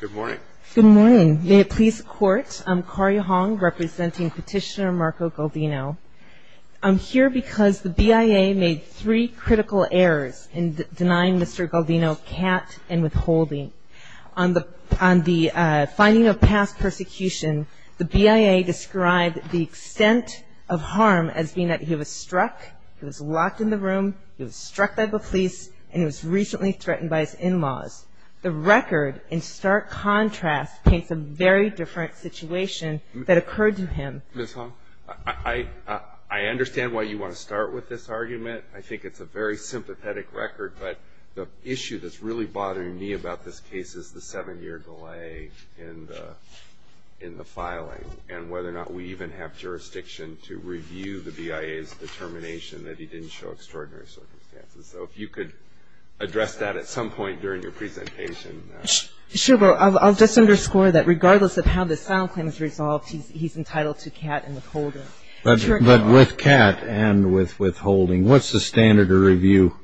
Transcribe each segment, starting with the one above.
Good morning. Good morning. May it please the Court. I'm Corrie Hong, representing Petitioner Marco Galdino. I'm here because the BIA made three critical errors in denying Mr. Galdino cat and withholding. On the finding of past persecution, the BIA described the extent of harm as being that he was struck, he was locked in the room, he was struck by the police, and he was recently threatened by his in-laws. The record, in stark contrast, paints a very different situation that occurred to him. Ms. Hong, I understand why you want to start with this argument. I think it's a very sympathetic record, but the issue that's really bothering me about this case is the seven-year delay in the filing and whether or not we even have jurisdiction to review the BIA's determination that he didn't show extraordinary circumstances. So if you could address that at some point during your presentation. Sure. Well, I'll just underscore that regardless of how this file claim is resolved, he's entitled to cat and withholding. But with cat and with withholding, what's the standard to review?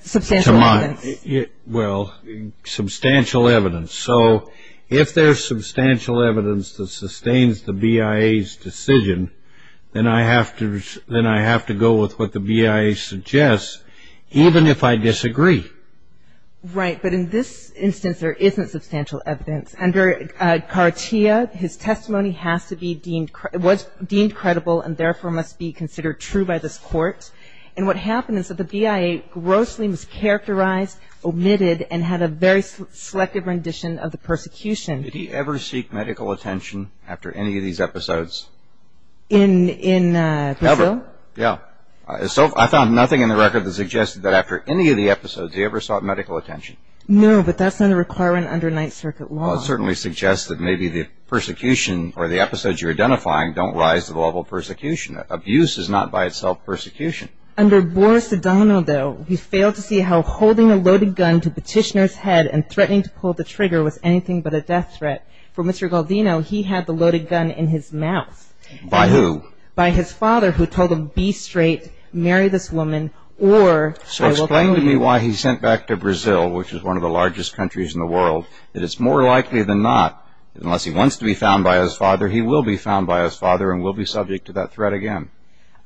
Substantial evidence. Well, substantial evidence. So if there's substantial evidence that sustains the BIA's decision, then I have to go with what the BIA suggests, even if I disagree. Right. But in this instance, there isn't substantial evidence. Under Cartilla, his testimony has to be deemed ñ was deemed credible and therefore must be considered true by this Court. And what happened is that the BIA grossly mischaracterized, omitted, and had a very selective rendition of the persecution. Did he ever seek medical attention after any of these episodes? In Brazil? Never. Yeah. I found nothing in the record that suggested that after any of the episodes, he ever sought medical attention. No, but that's not a requirement under Ninth Circuit law. Well, it certainly suggests that maybe the persecution or the episodes you're identifying don't rise to the level of persecution. Abuse is not by itself persecution. Under Boris Adano, though, we failed to see how holding a loaded gun to petitioner's head and threatening to pull the trigger was anything but a death threat. For Mr. Galdino, he had the loaded gun in his mouth. By who? By his father, who told him, be straight, marry this woman, or I will kill you. So explain to me why he sent back to Brazil, which is one of the largest countries in the world, that it's more likely than not that unless he wants to be found by his father, he will be found by his father and will be subject to that threat again.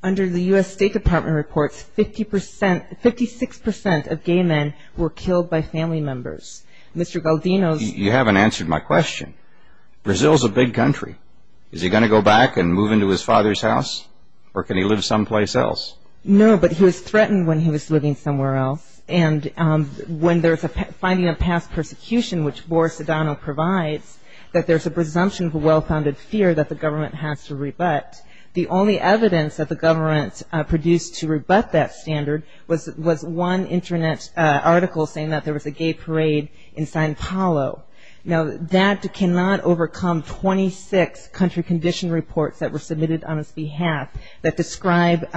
Under the U.S. State Department reports, 56% of gay men were killed by family members. Mr. Galdino's... You haven't answered my question. Brazil is a big country. Is he going to go back and move into his father's house? Or can he live someplace else? No, but he was threatened when he was living somewhere else. And when there's a finding of past persecution, which Boris Adano provides, that there's a presumption of a well-founded fear that the government has to rebut, the only evidence that the government produced to rebut that standard was one Internet article saying that there was a gay parade in Sao Paulo. Now, that cannot overcome 26 country condition reports that were submitted on his behalf that describe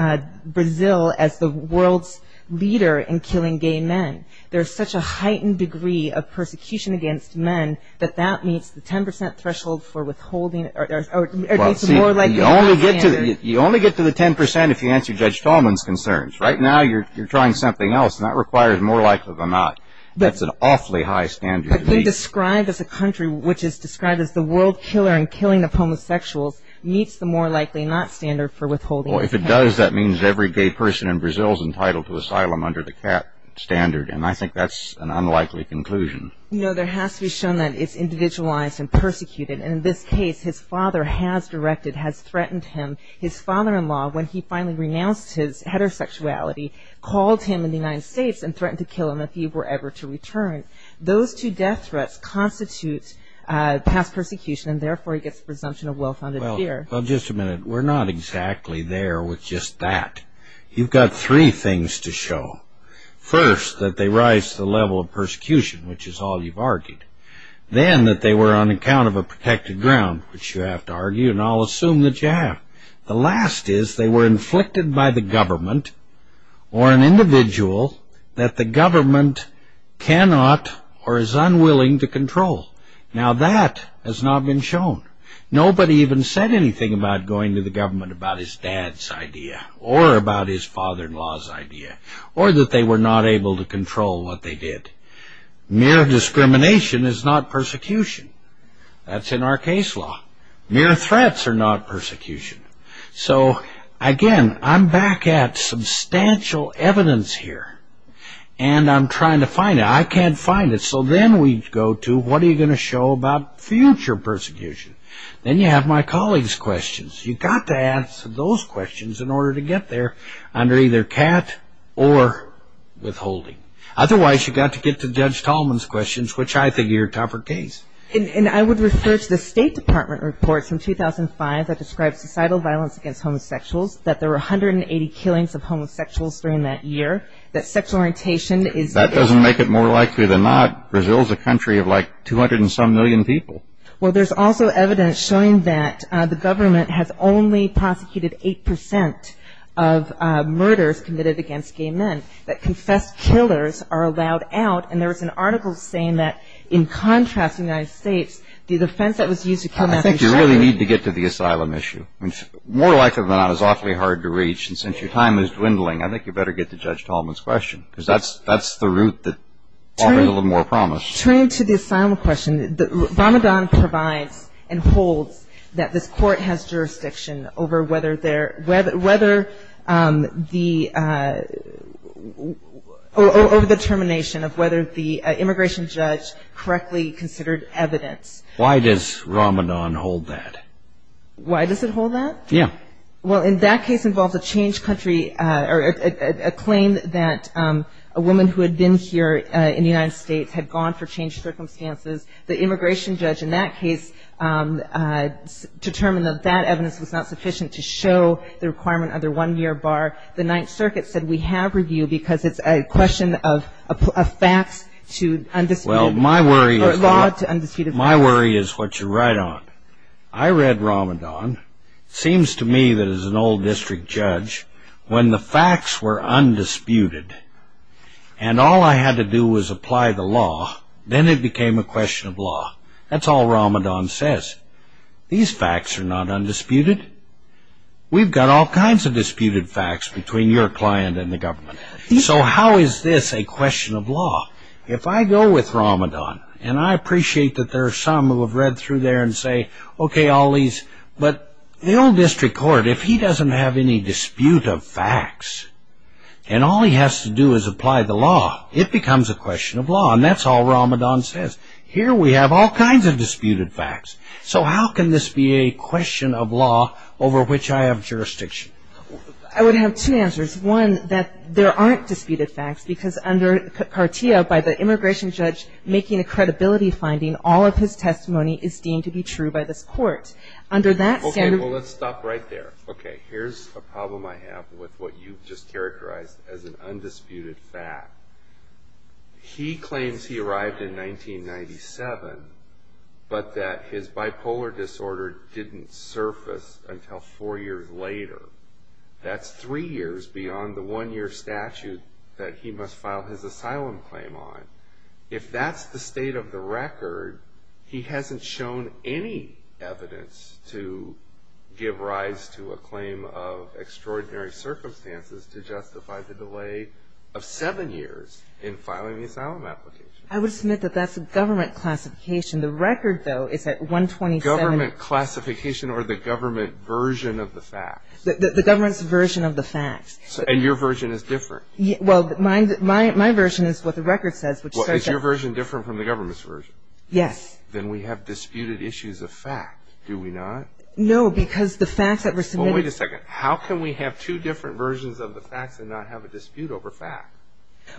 Brazil as the world's leader in killing gay men. There's such a heightened degree of persecution against men that that meets the 10% threshold for withholding or meets the more likely not standard. Well, see, you only get to the 10% if you answer Judge Tallman's concerns. Right now you're trying something else, and that requires more likely than not. That's an awfully high standard to meet. But to describe as a country which is described as the world killer in killing of homosexuals meets the more likely not standard for withholding. Well, if it does, that means every gay person in Brazil is entitled to asylum under the CAT standard. And I think that's an unlikely conclusion. You know, there has to be shown that it's individualized and persecuted. And in this case, his father has directed, has threatened him. His father-in-law, when he finally renounced his heterosexuality, called him in the United States and threatened to kill him if he were ever to return. Those two death threats constitute past persecution, and therefore he gets a presumption of well-founded fear. Well, just a minute. We're not exactly there with just that. You've got three things to show. First, that they rise to the level of persecution, which is all you've argued. Then that they were on account of a protected ground, which you have to argue, and I'll assume that you have. The last is they were inflicted by the government or an individual that the government cannot or is unwilling to control. Now that has not been shown. Nobody even said anything about going to the government about his dad's idea or about his father-in-law's idea or that they were not able to control what they did. Mere discrimination is not persecution. That's in our case law. Mere threats are not persecution. So, again, I'm back at substantial evidence here. And I'm trying to find it. I can't find it. So then we go to what are you going to show about future persecution? Then you have my colleague's questions. You've got to answer those questions in order to get there under either cat or withholding. Otherwise, you've got to get to Judge Tallman's questions, which I think are your topper case. And I would refer to the State Department report from 2005 that described societal violence against homosexuals, that there were 180 killings of homosexuals during that year, that sexual orientation is That doesn't make it more likely than not. Brazil is a country of, like, 200 and some million people. Well, there's also evidence showing that the government has only prosecuted 8 percent of murders committed against gay men, that confessed killers are allowed out. And there was an article saying that, in contrast to the United States, the defense that was used to kill Matthew Shepard I think you really need to get to the asylum issue. More likely than not, it's awfully hard to reach. And since your time is dwindling, I think you better get to Judge Tallman's question because that's the route that offers a little more promise. Turning to the asylum question, Ramadan provides and holds that this court has jurisdiction over whether the termination of whether the immigration judge correctly considered evidence. Why does Ramadan hold that? Why does it hold that? Yeah. Well, in that case involves a changed country or a claim that a woman who had been here in the United States had gone for changed circumstances. The immigration judge in that case determined that that evidence was not sufficient to show the requirement under one-year bar. The Ninth Circuit said we have review because it's a question of facts to undisputed facts. Well, my worry is what you write on. I read Ramadan. It seems to me that as an old district judge, when the facts were undisputed and all I had to do was apply the law, then it became a question of law. That's all Ramadan says. These facts are not undisputed. We've got all kinds of disputed facts between your client and the government. So how is this a question of law? If I go with Ramadan, and I appreciate that there are some who have read through there and say, okay, Ali's, but the old district court, if he doesn't have any dispute of facts, and all he has to do is apply the law, it becomes a question of law. And that's all Ramadan says. Here we have all kinds of disputed facts. So how can this be a question of law over which I have jurisdiction? I would have two answers. One, that there aren't disputed facts because under Qartiya, by the immigration judge making a credibility finding, all of his testimony is deemed to be true by this court. Okay, well, let's stop right there. Okay, here's a problem I have with what you've just characterized as an undisputed fact. He claims he arrived in 1997, but that his bipolar disorder didn't surface until four years later. That's three years beyond the one-year statute that he must file his asylum claim on. If that's the state of the record, he hasn't shown any evidence to give rise to a claim of extraordinary circumstances to justify the delay of seven years in filing the asylum application. I would submit that that's a government classification. The record, though, is at 127. Government classification or the government version of the facts. The government's version of the facts. And your version is different. Well, my version is what the record says. Is your version different from the government's version? Yes. Then we have disputed issues of fact, do we not? No, because the facts that were submitted. Well, wait a second. How can we have two different versions of the facts and not have a dispute over facts?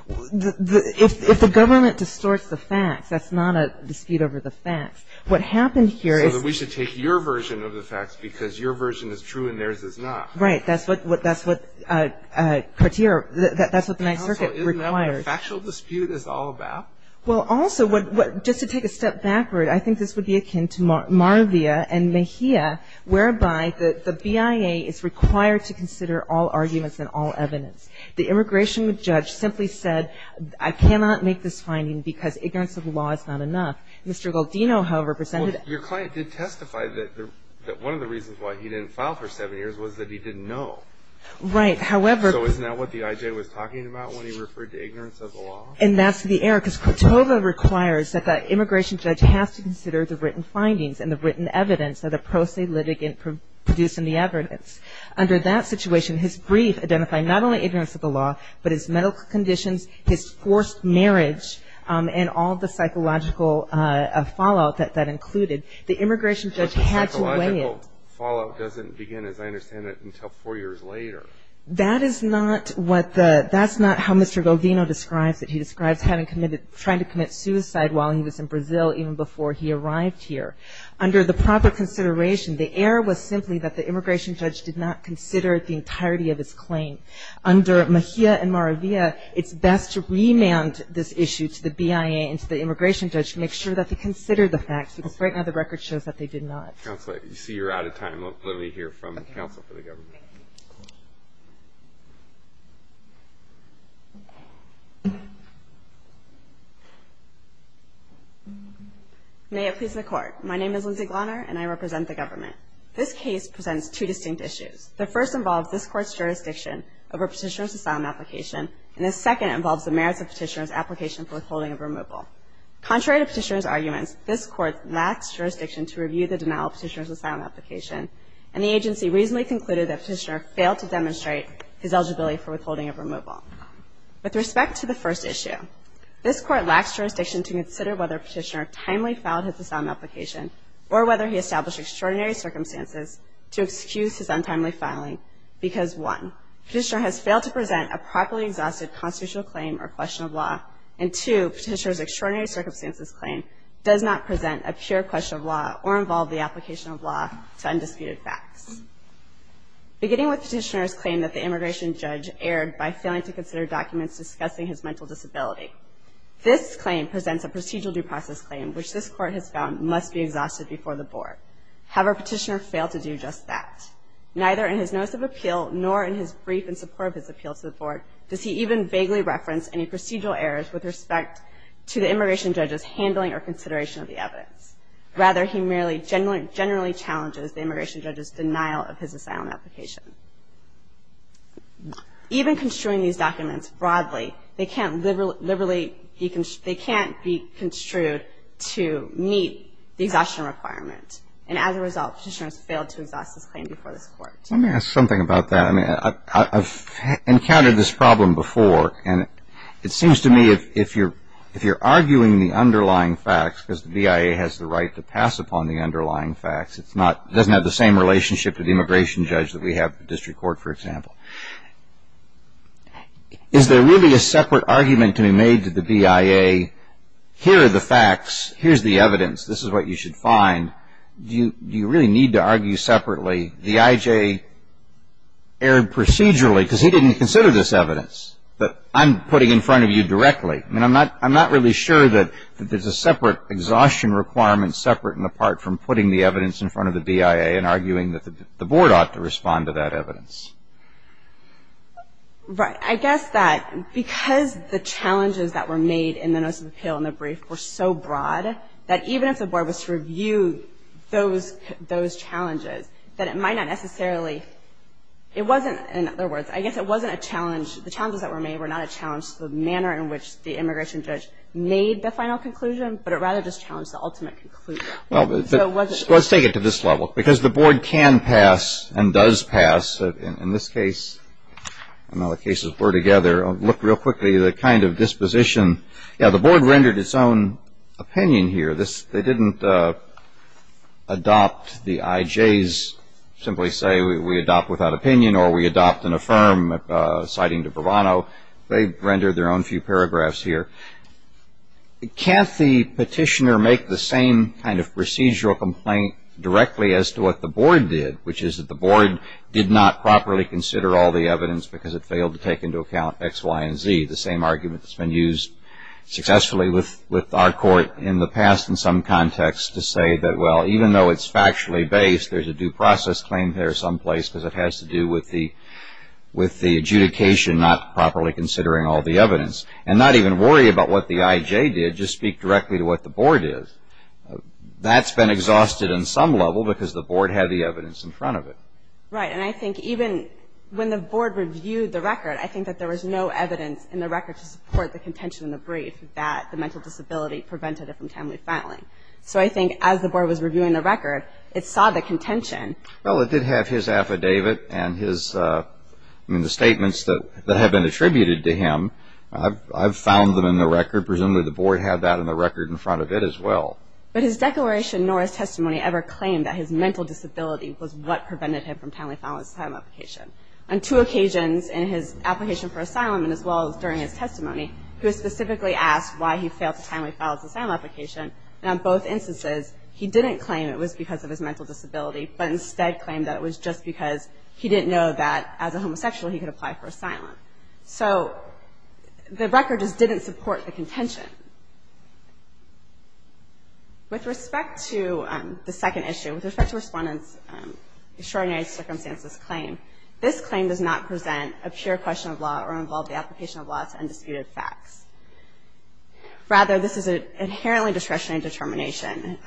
If the government distorts the facts, that's not a dispute over the facts. What happened here is we should take your version of the facts because your version is true and theirs is not. Right. That's what the Ninth Circuit requires. Counsel, isn't that what a factual dispute is all about? Well, also, just to take a step backward, I think this would be akin to Marvia and Mejia, whereby the BIA is required to consider all arguments and all evidence. The immigration judge simply said, I cannot make this finding because ignorance of the law is not enough. Mr. Goldino, however, presented it. Your client did testify that one of the reasons why he didn't file for seven years was that he didn't know. Right. However. So isn't that what the IJ was talking about when he referred to ignorance of the law? And that's the error because Cotova requires that the immigration judge has to consider the written findings and the written evidence that a pro se litigant produced in the evidence. Under that situation, his brief identified not only ignorance of the law but his medical conditions, his forced marriage, and all the psychological fallout that that included. The immigration judge had to weigh it. But the psychological fallout doesn't begin, as I understand it, until four years later. That is not what the that's not how Mr. Goldino describes it. He describes having committed trying to commit suicide while he was in Brazil even before he arrived here. Under the proper consideration, the error was simply that the immigration judge did not consider the entirety of his claim. Under Mejia and Maravilla, it's best to remand this issue to the BIA and to the immigration judge to make sure that they consider the facts because right now the record shows that they did not. Counsel, I see you're out of time. Let me hear from counsel for the government. May it please the court. My name is Lindsay Glarner, and I represent the government. This case presents two distinct issues. The first involves this court's jurisdiction over Petitioner's asylum application, and the second involves the merits of Petitioner's application for withholding of removal. Contrary to Petitioner's arguments, this court lacks jurisdiction to review the denial of Petitioner's asylum application, and the agency reasonably concluded that Petitioner failed to demonstrate his eligibility for withholding of removal. With respect to the first issue, this court lacks jurisdiction to consider whether Petitioner timely filed his asylum application or whether he established extraordinary circumstances to excuse his untimely filing because, one, Petitioner has failed to present a properly exhausted constitutional claim or question of law, and, two, Petitioner's extraordinary circumstances claim does not present a pure question of law or involve the application of law to undisputed facts. Beginning with Petitioner's claim that the immigration judge erred by failing to consider documents discussing his mental disability, this claim presents a procedural due process claim, which this court has found must be exhausted before the board. Have a Petitioner failed to do just that? Neither in his notice of appeal nor in his brief in support of his appeal to the board does he even vaguely reference any procedural errors with respect to the immigration judge's handling or consideration of the evidence. Rather, he merely generally challenges the immigration judge's denial of his asylum application. Even construing these documents broadly, they can't be construed to meet the exhaustion requirement, and as a result, Petitioner has failed to exhaust his claim before this court. Let me ask something about that. I mean, I've encountered this problem before, and it seems to me if you're arguing the underlying facts, because the BIA has the right to pass upon the underlying facts, it doesn't have the same relationship to the immigration judge that we have at the district court, for example. Is there really a separate argument to be made to the BIA, here are the facts, here's the evidence, this is what you should find, do you really need to argue separately? The IJ erred procedurally because he didn't consider this evidence that I'm putting in front of you directly. I mean, I'm not really sure that there's a separate exhaustion requirement separate and apart from putting the evidence in front of the BIA and arguing that the board ought to respond to that evidence. Right. I guess that because the challenges that were made in the notice of appeal and the brief were so broad that even if the board was to review those challenges, that it might not necessarily, it wasn't, in other words, I guess it wasn't a challenge, the challenges that were made were not a challenge to the manner in which the immigration judge made the final conclusion, but it rather just challenged the ultimate conclusion. Well, let's take it to this level. Because the board can pass and does pass, in this case and other cases put together, look real quickly at the kind of disposition. Yeah, the board rendered its own opinion here. They didn't adopt the IJ's simply say we adopt without opinion or we adopt and affirm citing to Bravano. They rendered their own few paragraphs here. Can't the petitioner make the same kind of procedural complaint directly as to what the board did, which is that the board did not properly consider all the evidence because it failed to take into account X, Y, and Z, the same argument that's been used successfully with our court in the past in some context to say that, well, even though it's factually based, there's a due process claim there someplace because it has to do with the adjudication not properly considering all the evidence. And not even worry about what the IJ did, just speak directly to what the board did. That's been exhausted in some level because the board had the evidence in front of it. Right. And I think even when the board reviewed the record, I think that there was no evidence in the record to support the contention in the brief that the mental disability prevented it from timely filing. So I think as the board was reviewing the record, it saw the contention. Well, it did have his affidavit and his statements that have been attributed to him. I've found them in the record. Presumably the board had that in the record in front of it as well. But his declaration nor his testimony ever claimed that his mental disability was what prevented him from timely filing his asylum application. On two occasions in his application for asylum and as well as during his testimony, he was specifically asked why he failed to timely file his asylum application, and on both instances he didn't claim it was because of his mental disability but instead claimed that it was just because he didn't know that as a homosexual he could apply for asylum. So the record just didn't support the contention. With respect to the second issue, with respect to Respondent Extraordinary Circumstances' claim, this claim does not present a pure question of law or involve the application of law to undisputed facts. Rather, this is an inherently discretionary determination.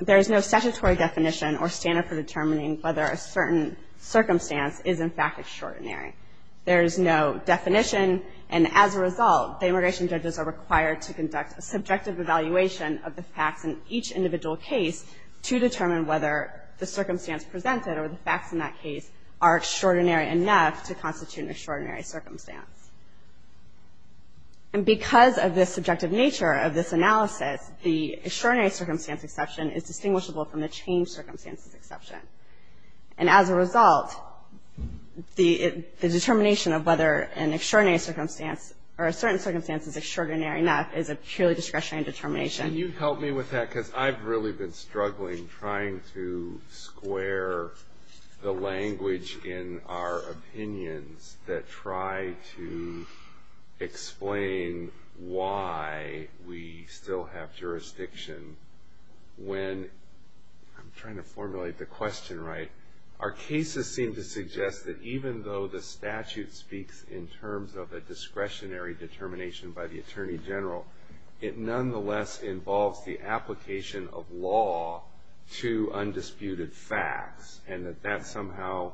There is no statutory definition or standard for determining whether a certain circumstance is in fact extraordinary. There is no definition, and as a result, the immigration judges are required to conduct a subjective evaluation of the facts in each individual case to determine whether the circumstance presented or the facts in that case are extraordinary enough to constitute an extraordinary circumstance. And because of the subjective nature of this analysis, the extraordinary circumstance exception is distinguishable from the changed circumstances exception. And as a result, the determination of whether an extraordinary circumstance or a certain circumstance is extraordinary enough is a purely discretionary determination. Can you help me with that because I've really been struggling trying to square the language in our opinions that try to explain why we still have jurisdiction when I'm trying to formulate the question right. Our cases seem to suggest that even though the statute speaks in terms of a discretionary determination by the Attorney General, it nonetheless involves the application of law to undisputed facts and that that somehow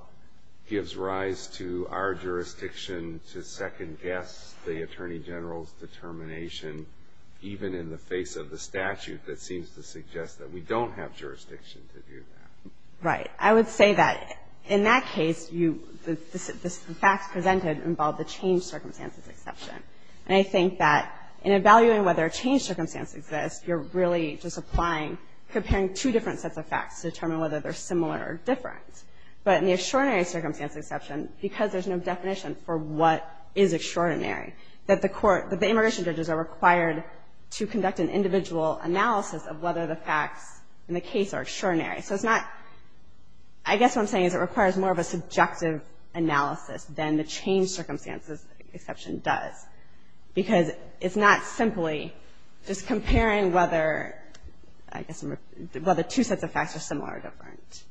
gives rise to our jurisdiction to second-guess the Attorney General's determination even in the face of the statute that seems to suggest that we don't have jurisdiction to do that. Right. I would say that in that case, the facts presented involve the changed circumstances exception. And I think that in evaluating whether a changed circumstance exists, you're really just applying, comparing two different sets of facts to determine whether they're similar or different. But in the extraordinary circumstance exception, because there's no definition for what is extraordinary, that the immigration judges are required to conduct an individual analysis of whether the facts in the case are extraordinary. So it's not – I guess what I'm saying is it requires more of a subjective analysis than the changed circumstances exception does because it's not simply just comparing whether two sets of facts are similar or different.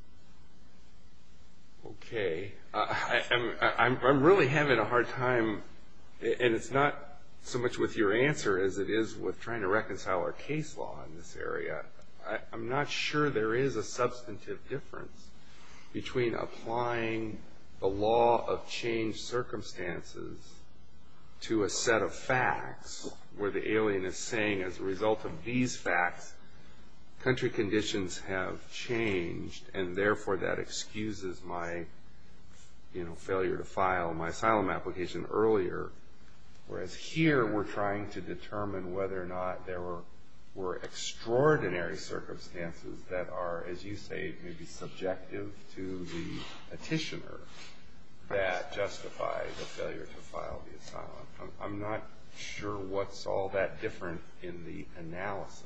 Okay. I'm really having a hard time, and it's not so much with your answer as it is with trying to reconcile our case law in this area. I'm not sure there is a substantive difference between applying the law of changed circumstances to a set of facts where the alien is saying as a result of these facts, country conditions have changed, and therefore that excuses my failure to file my asylum application earlier, whereas here we're trying to determine whether or not there were extraordinary circumstances that are, as you say, maybe subjective to the petitioner that justify the failure to file the asylum. I'm not sure what's all that different in the analysis.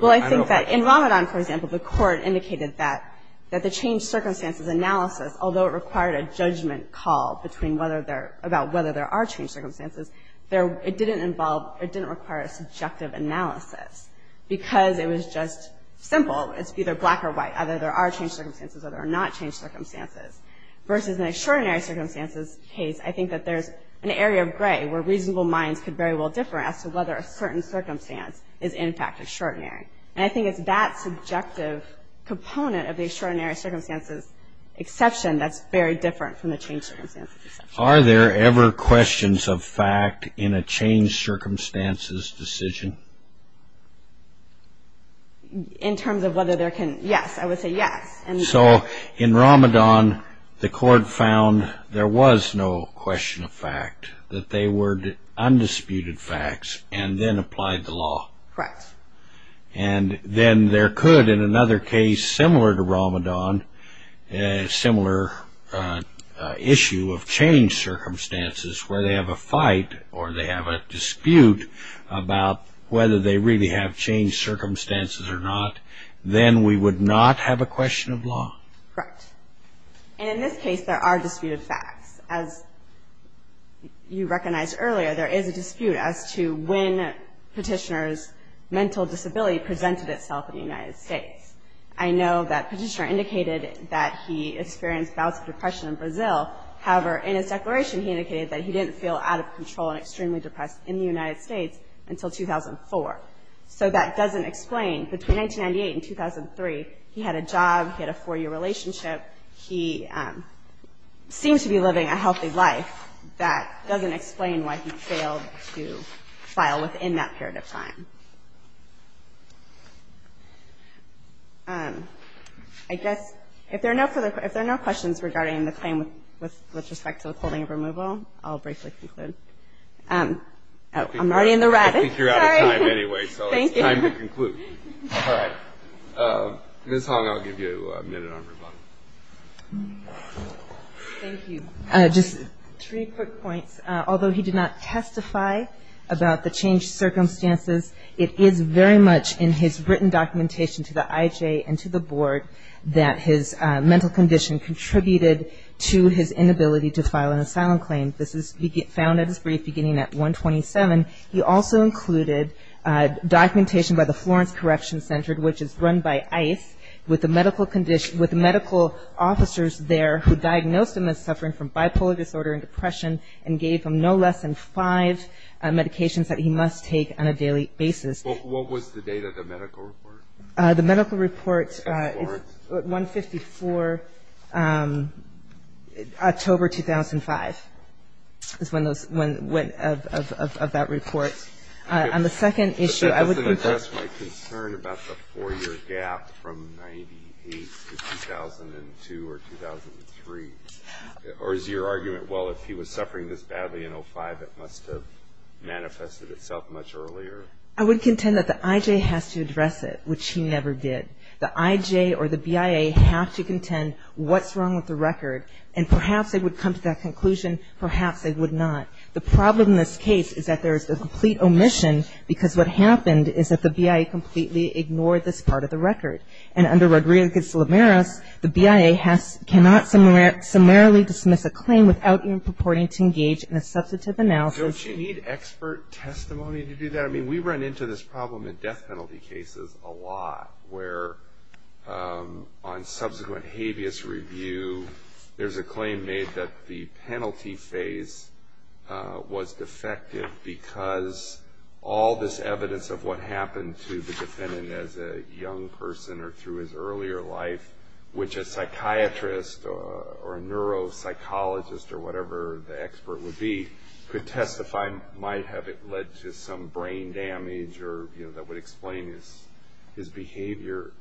Well, I think that in Ramadan, for example, the court indicated that the changed circumstances analysis, although it required a judgment call about whether there are changed circumstances, it didn't involve – it didn't require a subjective analysis because it was just simple. It's either black or white, either there are changed circumstances or there are not changed circumstances. Versus an extraordinary circumstances case, I think that there's an area of gray where reasonable minds could very well differ as to whether a certain circumstance is, in fact, extraordinary. And I think it's that subjective component of the extraordinary circumstances exception that's very different from the changed circumstances exception. Are there ever questions of fact in a changed circumstances decision? In terms of whether there can – yes, I would say yes. So in Ramadan, the court found there was no question of fact, that they were undisputed facts and then applied the law. Correct. And then there could, in another case similar to Ramadan, a similar issue of changed circumstances where they have a fight or they have a dispute about whether they really have changed circumstances or not, then we would not have a question of law. Correct. And in this case, there are disputed facts. As you recognized earlier, there is a dispute as to when Petitioner's mental disability presented itself in the United States. I know that Petitioner indicated that he experienced bouts of depression in Brazil. However, in his declaration, he indicated that he didn't feel out of control and extremely depressed in the United States until 2004. So that doesn't explain, between 1998 and 2003, he had a job, he had a four-year relationship, he seemed to be living a healthy life. That doesn't explain why he failed to file within that period of time. I guess if there are no questions regarding the claim with respect to the holding of removal, I'll briefly conclude. I'm already in the rabbit. I think you're out of time anyway, so it's time to conclude. All right. Ms. Hong, I'll give you a minute on rebuttal. Thank you. Just three quick points. Although he did not testify about the changed circumstances, it is very much in his written documentation to the IJ and to the board that his mental condition contributed to his inability to file an asylum claim. This is found in his brief beginning at 127. He also included documentation by the Florence Correction Center, which is run by ICE with medical officers there who diagnosed him as suffering from bipolar disorder and depression and gave him no less than five medications that he must take on a daily basis. What was the date of the medical report? The medical report is 154, October 2005 is when those went of that report. On the second issue, I would contend. But that doesn't address my concern about the four-year gap from 98 to 2002 or 2003. Or is your argument, well, if he was suffering this badly in 05, it must have manifested itself much earlier? I would contend that the IJ has to address it, which he never did. The IJ or the BIA have to contend what's wrong with the record. And perhaps they would come to that conclusion. Perhaps they would not. The problem in this case is that there is a complete omission because what happened is that the BIA completely ignored this part of the record. And under Rodriguez-Lameras, the BIA cannot summarily dismiss a claim without even purporting to engage in a substantive analysis. Don't you need expert testimony to do that? I mean, we run into this problem in death penalty cases a lot, where on subsequent habeas review there's a claim made that the penalty phase was defective because all this evidence of what happened to the defendant as a young person or through his earlier life, which a psychiatrist or a neuropsychologist or whatever the expert would be could testify might have led to some brain damage or that would explain his behavior.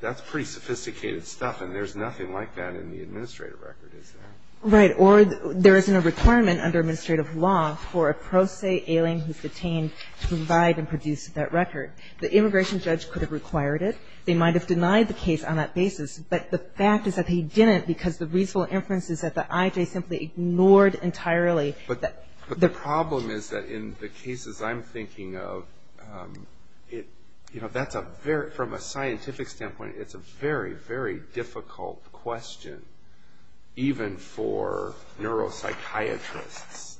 That's pretty sophisticated stuff, and there's nothing like that in the administrative record, is there? Right. Or there isn't a requirement under administrative law for a pro se alien who's detained to provide and produce that record. The immigration judge could have required it. They might have denied the case on that basis. But the fact is that they didn't because the reasonable inference is that the IJ simply ignored entirely. But the problem is that in the cases I'm thinking of, from a scientific standpoint, it's a very, very difficult question even for neuropsychiatrists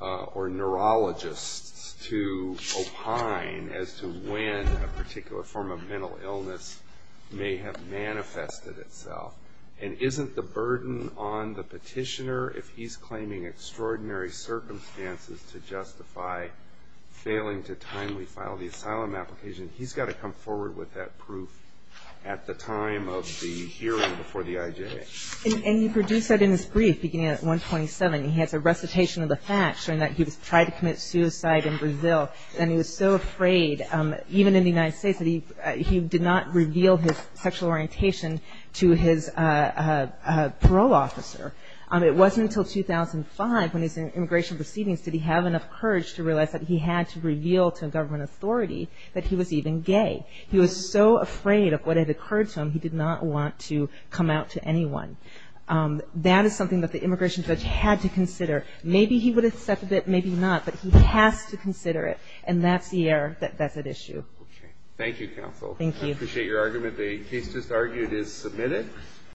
or neurologists to opine as to when a particular form of mental illness may have manifested itself. And isn't the burden on the petitioner if he's claiming extraordinary circumstances to justify failing to timely file the asylum application, he's got to come forward with that proof at the time of the hearing before the IJ. And he produced that in his brief beginning at 127. He has a recitation of the facts showing that he tried to commit suicide in Brazil. And he was so afraid, even in the United States, that he did not reveal his sexual orientation to his parole officer. It wasn't until 2005 when he was in immigration proceedings did he have enough courage to realize that he had to reveal to a government authority that he was even gay. He was so afraid of what had occurred to him, he did not want to come out to anyone. That is something that the immigration judge had to consider. Maybe he would have accepted it, maybe not, but he has to consider it. And that's the error that's at issue. Okay. Thank you, counsel. Thank you. I appreciate your argument. The case just argued is submitted.